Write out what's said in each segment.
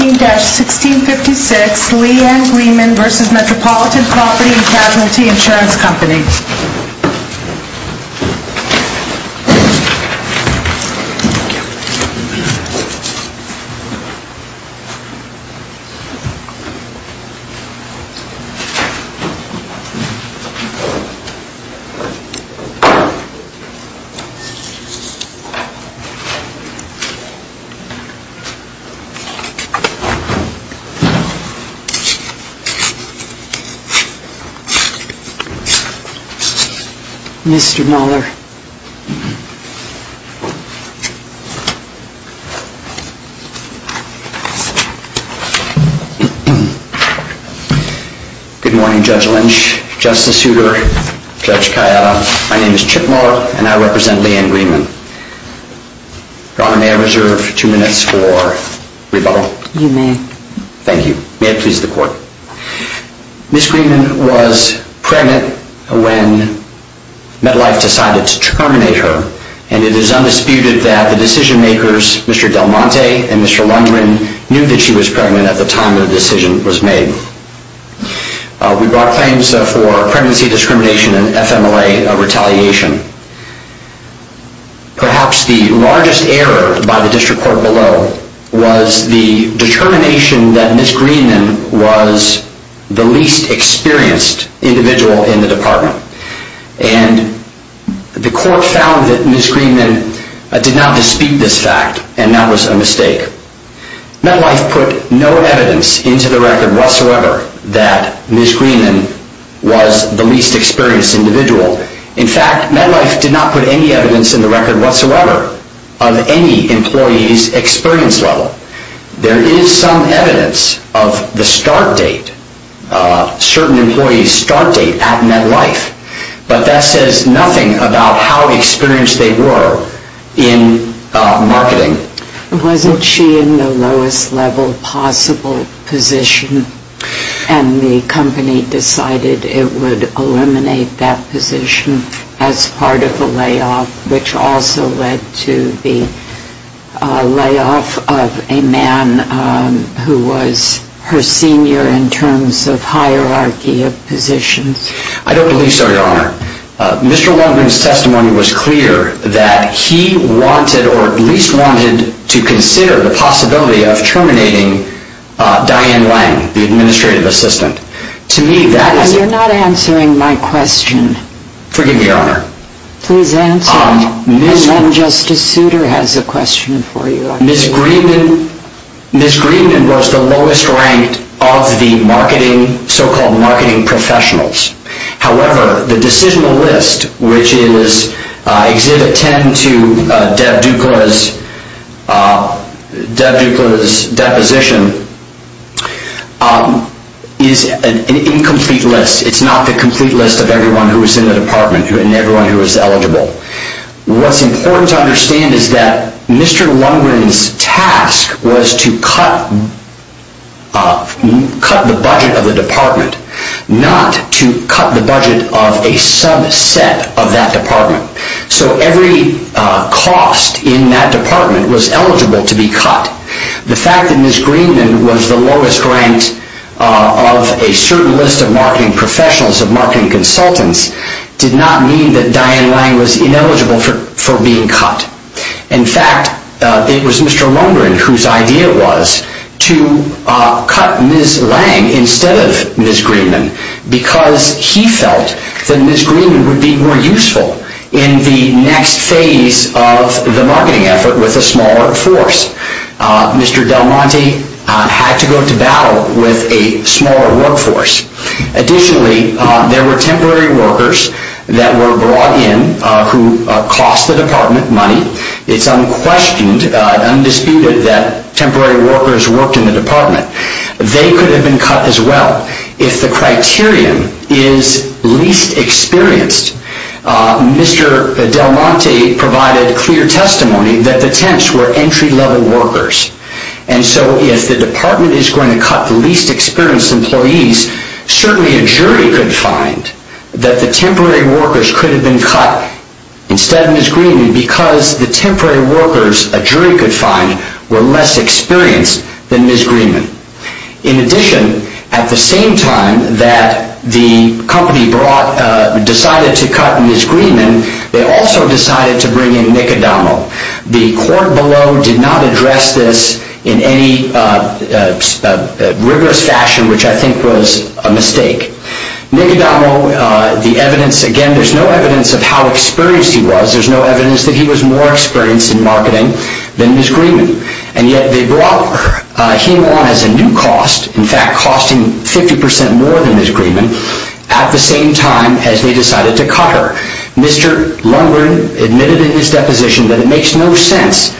and Casualty Insurance Company. Good morning Judge Lynch, Justice Souter, Judge Chiatta, my name is Chip Muller and I represent Leanne Greenman. Ms. Greenman was pregnant when MetLife decided to terminate her and it is undisputed that the decision makers, Mr. Del Monte and Mr. Lundgren, knew that she was pregnant at the time the decision was made. We brought claims for pregnancy discrimination and FMLA retaliation. Perhaps the largest error by the district court below was the determination that Ms. Greenman was the least experienced individual in the department and the court found that Ms. Greenman did not dispute this fact and that was a mistake. MetLife put no evidence into the record whatsoever that Ms. Greenman was the least experienced individual. In fact, MetLife did not put any evidence in the record whatsoever of any employee's experience level. There is some evidence of the start date, certain employee's start date at MetLife but that says nothing about how experienced they were in marketing. Wasn't she in the lowest level possible position and the company decided it would eliminate that position as part of a layoff which also led to the layoff of a man who was her senior in terms of hierarchy of positions? I don't believe so, Your Honor. Mr. Longman's testimony was clear that he wanted or at least wanted to consider the possibility of terminating Diane Lang, the administrative assistant. You're not answering my question. Forgive me, Your Honor. Please answer it. Ms. Justice Souter has a question for you. Ms. Greenman was the lowest ranked of the so-called marketing professionals. However, the decisional list which is Exhibit 10 to Deb Dukla's deposition is an incomplete list. It's not the complete list of everyone who was in the department and everyone who was eligible. What's important to understand is that Mr. Longman's task was to cut the budget of the subset of that department. So every cost in that department was eligible to be cut. The fact that Ms. Greenman was the lowest ranked of a certain list of marketing professionals of marketing consultants did not mean that Diane Lang was ineligible for being cut. In fact, it was Mr. Longman whose idea was to cut Ms. Lang instead of Ms. Greenman because he felt that Ms. Greenman would be more useful in the next phase of the marketing effort with a smaller force. Mr. Del Monte had to go to battle with a smaller workforce. Additionally, there were temporary workers that were brought in who cost the department It's unquestioned, undisputed that temporary workers worked in the department. They could have been cut as well if the criterion is least experienced. Mr. Del Monte provided clear testimony that the temps were entry-level workers. And so if the department is going to cut the least experienced employees, certainly a jury could find that the temporary workers could have been cut instead of Ms. Greenman because the temporary workers a jury could find were less experienced than Ms. Greenman. In addition, at the same time that the company decided to cut Ms. Greenman, they also decided to bring in Nick Adamo. The court below did not address this in any rigorous fashion, which I think was a mistake. Nick Adamo, there's no evidence of how experienced he was. There's no evidence that he was more experienced in marketing than Ms. Greenman. And yet they brought him on as a new cost, in fact costing 50% more than Ms. Greenman at the same time as they decided to cut her. Mr. Lundgren admitted in his deposition that it makes no sense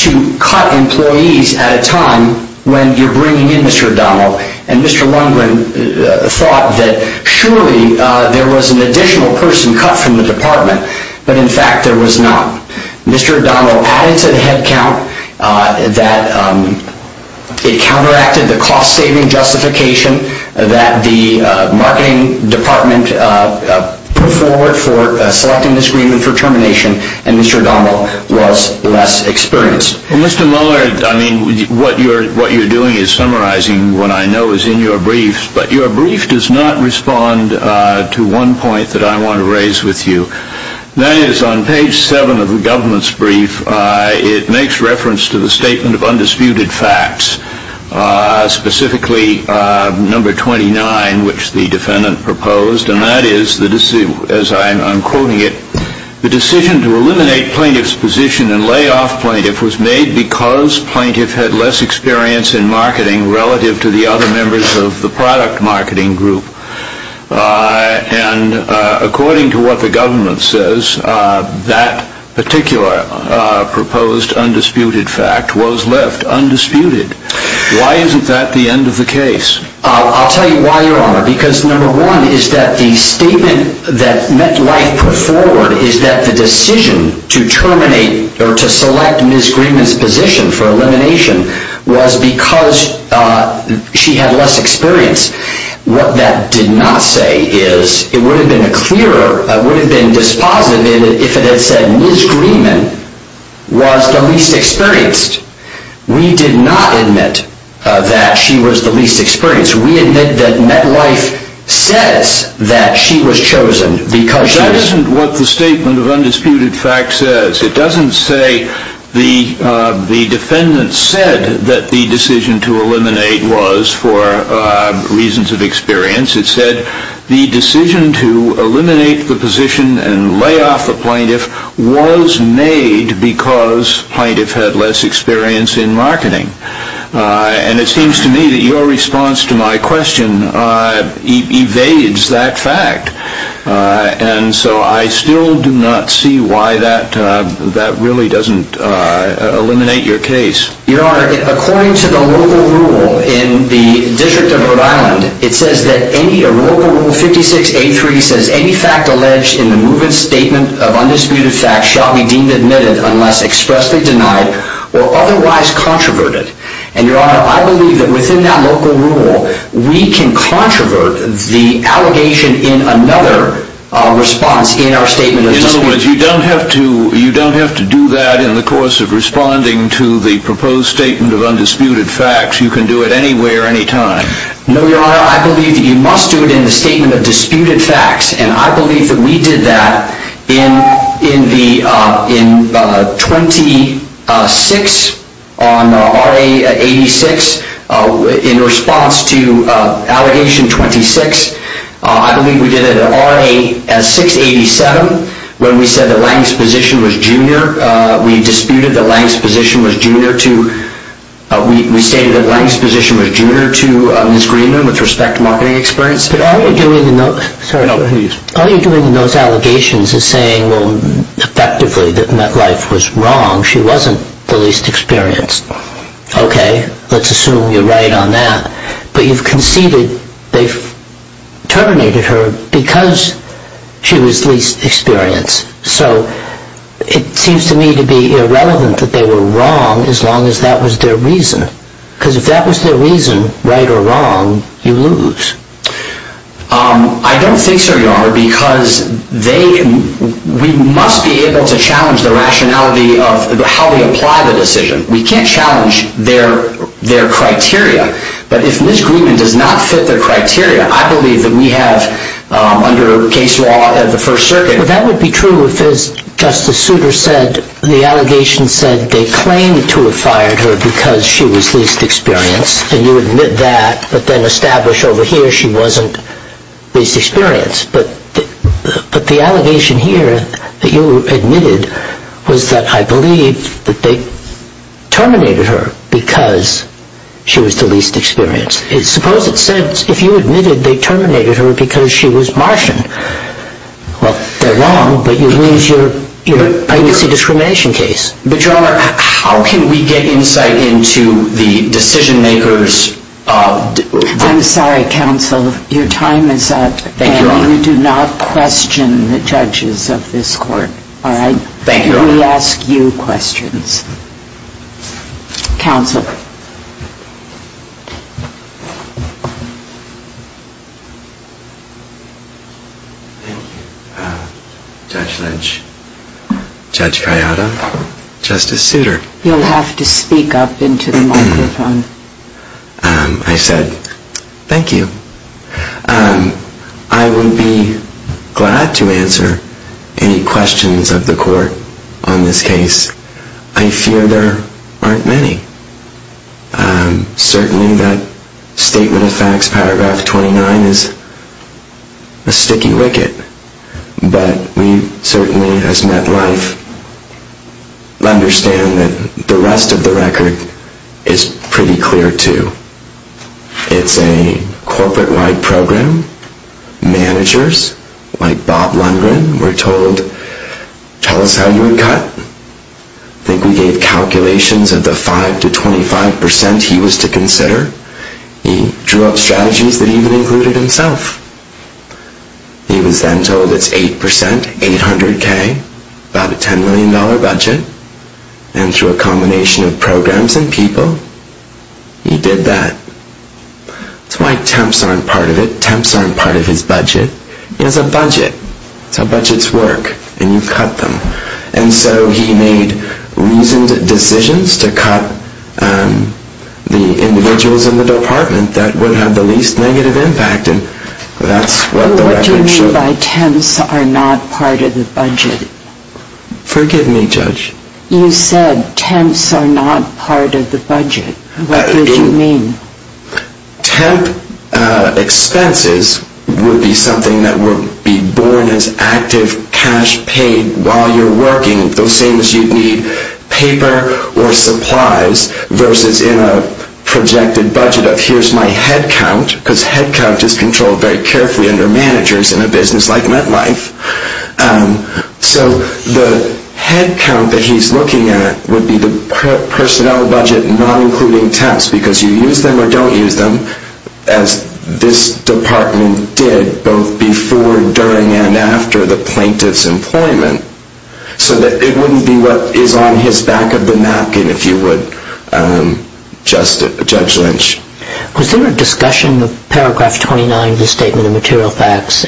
to cut employees at a time when you're bringing in Mr. Adamo. And Mr. Lundgren thought that surely there was an additional person cut from the department, but in fact there was not. Mr. Adamo added to the headcount that it counteracted the cost-saving justification that the marketing department put forward for selecting Ms. Greenman for termination and Mr. Adamo was less experienced. Mr. Mueller, what you're doing is summarizing what I know is in your brief, but your brief does not respond to one point that I want to raise with you. That is, on page 7 of the government's brief, it makes reference to the statement of undisputed facts, specifically number 29, which the defendant proposed. And that is, as I'm quoting it, the decision to eliminate plaintiff's position and lay off plaintiff was made because plaintiff had less experience in marketing relative to the other members of the product marketing group. And according to what the government says, that particular proposed undisputed fact was left undisputed. Why isn't that the end of the case? I'll tell you why, Your Honor. Because number one is that the statement that MetLife put forward is that the decision to terminate or to select Ms. Greenman's position for elimination was because she had less experience. What that did not say is, it would have been clearer, it would have been dispositive if it had said Ms. Greenman was the least experienced. We did not admit that she was the least experienced. We admit that MetLife says that she was chosen because she was... That isn't what the statement of undisputed fact says. It doesn't say the defendant said that the decision to eliminate was for reasons of experience. It said the decision to eliminate the position and lay off the plaintiff was made because plaintiff had less experience in marketing. And it seems to me that your response to my question evades that fact. And so I still do not see why that really doesn't eliminate your case. Your Honor, according to the local rule in the District of Rhode Island, it says that any local rule 56-83 says any fact alleged in the movement statement of undisputed fact shall be deemed admitted unless expressly denied or otherwise controverted. And your Honor, I believe that within that local rule, we can controvert the allegation in another response in our statement of disputed facts. In other words, you don't have to do that in the course of responding to the proposed statement of undisputed facts. You can do it anywhere, anytime. No, your Honor, I believe that you must do it in the statement of disputed facts. And I believe that we did that in 26 on RA-86 in response to allegation 26. I believe we did it at RA-687 when we said that Lange's position was junior. We disputed that Lange's position was junior to Ms. Greenman with respect to marketing experience. Yes, but all you're doing in those allegations is saying, well, effectively, that Metlife was wrong. She wasn't the least experienced. Okay, let's assume you're right on that. But you've conceded they've terminated her because she was least experienced. So it seems to me to be irrelevant that they were wrong as long as that was their reason. Because if that was their reason, right or wrong, you lose. I don't think so, Your Honor, because we must be able to challenge the rationality of how we apply the decision. We can't challenge their criteria. But if Ms. Greenman does not fit their criteria, I believe that we have under case law of the First Circuit That would be true if, as Justice Souter said, the allegation said they claimed to have fired her because she was least experienced. And you admit that, but then establish over here she wasn't least experienced. But the allegation here that you admitted was that I believe that they terminated her because she was the least experienced. Suppose it said, if you admitted they terminated her because she was Martian. Well, they're wrong. But you lose your privacy discrimination case. But, Your Honor, how can we get insight into the decision-makers? I'm sorry, counsel. Your time is up. Thank you, Your Honor. And you do not question the judges of this court. All right? Thank you, Your Honor. We ask you questions. Counsel. Thank you, Judge Lynch. Judge Gallardo. Justice Souter. You'll have to speak up into the microphone. I said, thank you. I will be glad to answer any questions of the court on this case. I fear there aren't many. Certainly that statement of facts, paragraph 29, is a sticky wicket. But we certainly, as MetLife, understand that the rest of the record is pretty clear, too. It's a corporate-wide program. Managers like Bob Lundgren were told, tell us how you would cut. I think we gave calculations of the 5 to 25% he was to consider. He drew up strategies that even included himself. He was then told it's 8%, 800K, about a $10 million budget. And through a combination of programs and people, he did that. That's why temps aren't part of it. Temps aren't part of his budget. He has a budget. That's how budgets work. And you cut them. And so he made reasoned decisions to cut the individuals in the department that would have the least negative impact. And that's what the record showed. What do you mean by temps are not part of the budget? Forgive me, Judge. You said temps are not part of the budget. What did you mean? Temp expenses would be something that would be born as active cash paid while you're working. The same as you'd need paper or supplies versus in a projected budget of here's my headcount because headcount is controlled very carefully under managers in a business like MetLife. So the headcount that he's looking at would be the personnel budget not including temps because you use them or don't use them as this department did both before, during, and after the plaintiff's employment so that it wouldn't be what is on his back of the napkin if you would, Judge Lynch. Was there a discussion of paragraph 29 of the Statement of Material Facts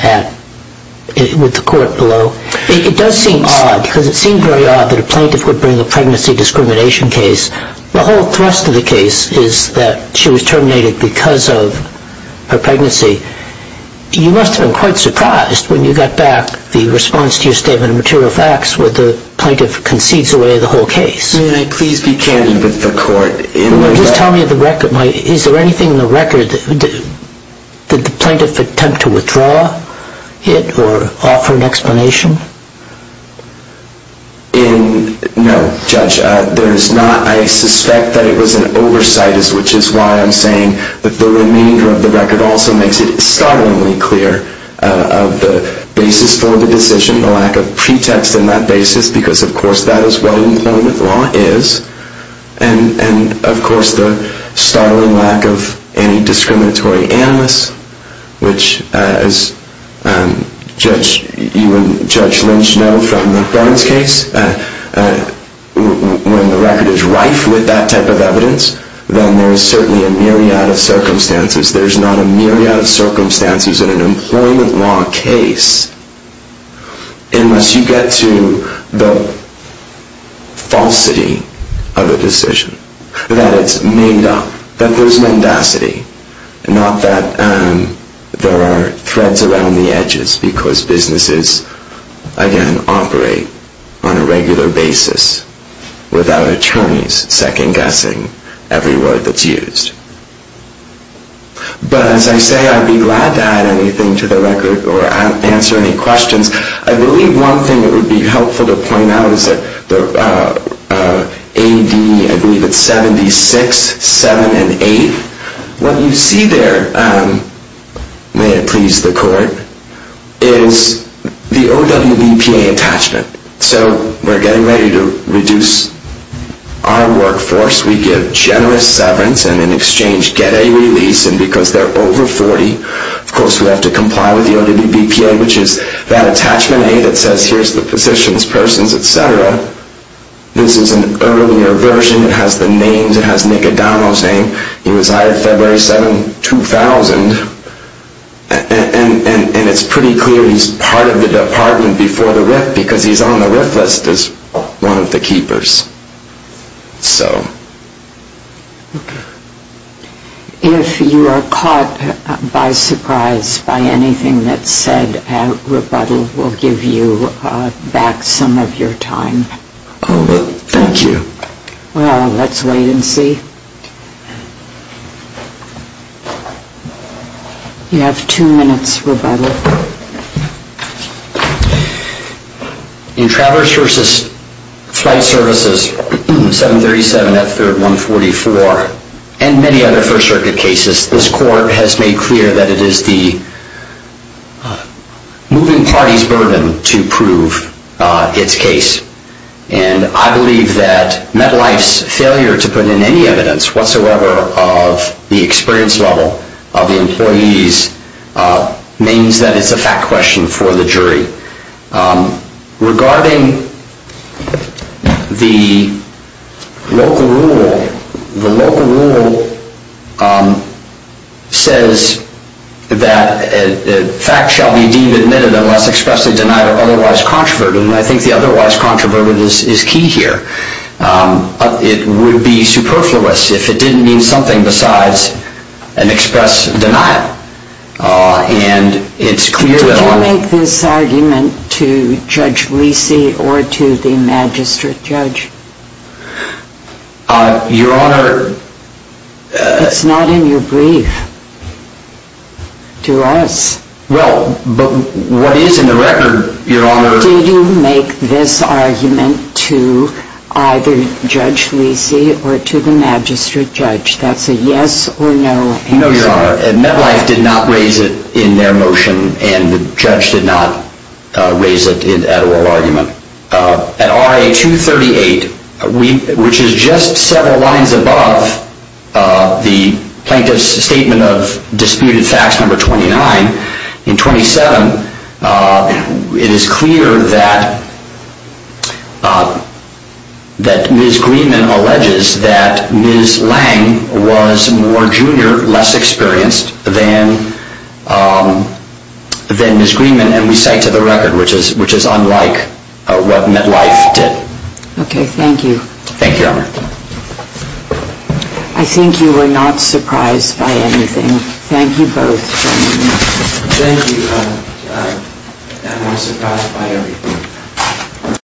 with the court below? It does seem odd because it seemed very odd that a plaintiff would bring a pregnancy discrimination case. The whole thrust of the case is that she was terminated because of her pregnancy. You must have been quite surprised when you got back the response to your Statement of Material Facts where the plaintiff concedes away the whole case. May I please be candid with the court? Just tell me the record. Is there anything in the record that the plaintiff attempted to withdraw or offer an explanation? No, Judge. There is not. I suspect that it was an oversight which is why I'm saying that the remainder of the record also makes it startlingly clear of the basis for the decision, the lack of pretext in that basis because, of course, that is what employment law is and, of course, the startling lack of any discriminatory animus which, as you and Judge Lynch know from the Barnes case, when the record is rife with that type of evidence then there is certainly a myriad of circumstances. There is not a myriad of circumstances in an employment law case unless you get to the falsity of a decision that it's made up, that there's mendacity and not that there are threads around the edges because businesses, again, operate on a regular basis without attorneys second-guessing every word that's used. But, as I say, I'd be glad to add anything to the record or answer any questions. I believe one thing that would be helpful to point out is that AD, I believe it's 76, 7, and 8, what you see there, may it please the Court, is the OWBPA attachment. So we're getting ready to reduce our workforce. We give generous severance and in exchange get a release and because they're over 40, of course we have to comply with the OWBPA which is that attachment A that says here's the positions, persons, etc. This is an earlier version. It has the names. It has Nick O'Donnell's name. He was hired February 7, 2000. And it's pretty clear he's part of the department before the RIF because he's on the RIF list as one of the keepers. So... If you are caught by surprise by anything that's said, rebuttal will give you back some of your time. Oh, thank you. Well, let's wait and see. You have two minutes, rebuttal. In Traverse versus Flight Services, 737 F3rd 144 and many other First Circuit cases, this Court has made clear that it is the moving party's burden to prove its case. And I believe that MetLife's failure to put in any evidence whatsoever of the experience level of the employees, names that have been used, that it's a fact question for the jury. Regarding the local rule, the local rule says that facts shall be deemed admitted unless expressly denied or otherwise controverted. And I think the otherwise controverted is key here. It would be superfluous if it didn't mean something besides an express denial. And it's clear to everyone... Did you make this argument to Judge Lisi or to the Magistrate Judge? Your Honor... It's not in your brief. To us. Well, but what is in the record, Your Honor... Did you make this argument to either Judge Lisi or to the Magistrate Judge? That's a yes or no answer. No, Your Honor. MetLife did not raise it in their motion and the judge did not raise it at oral argument. At RA 238, which is just several lines above the plaintiff's statement of disputed facts, number 29, in 27, it is clear that Ms. Greenman alleges that Ms. Lange was more junior, less experienced than Ms. Greenman and we cite to the record which is unlike what MetLife did. Thank you. I think you were not surprised by anything. Thank you both. Thank you. I was surprised by everything.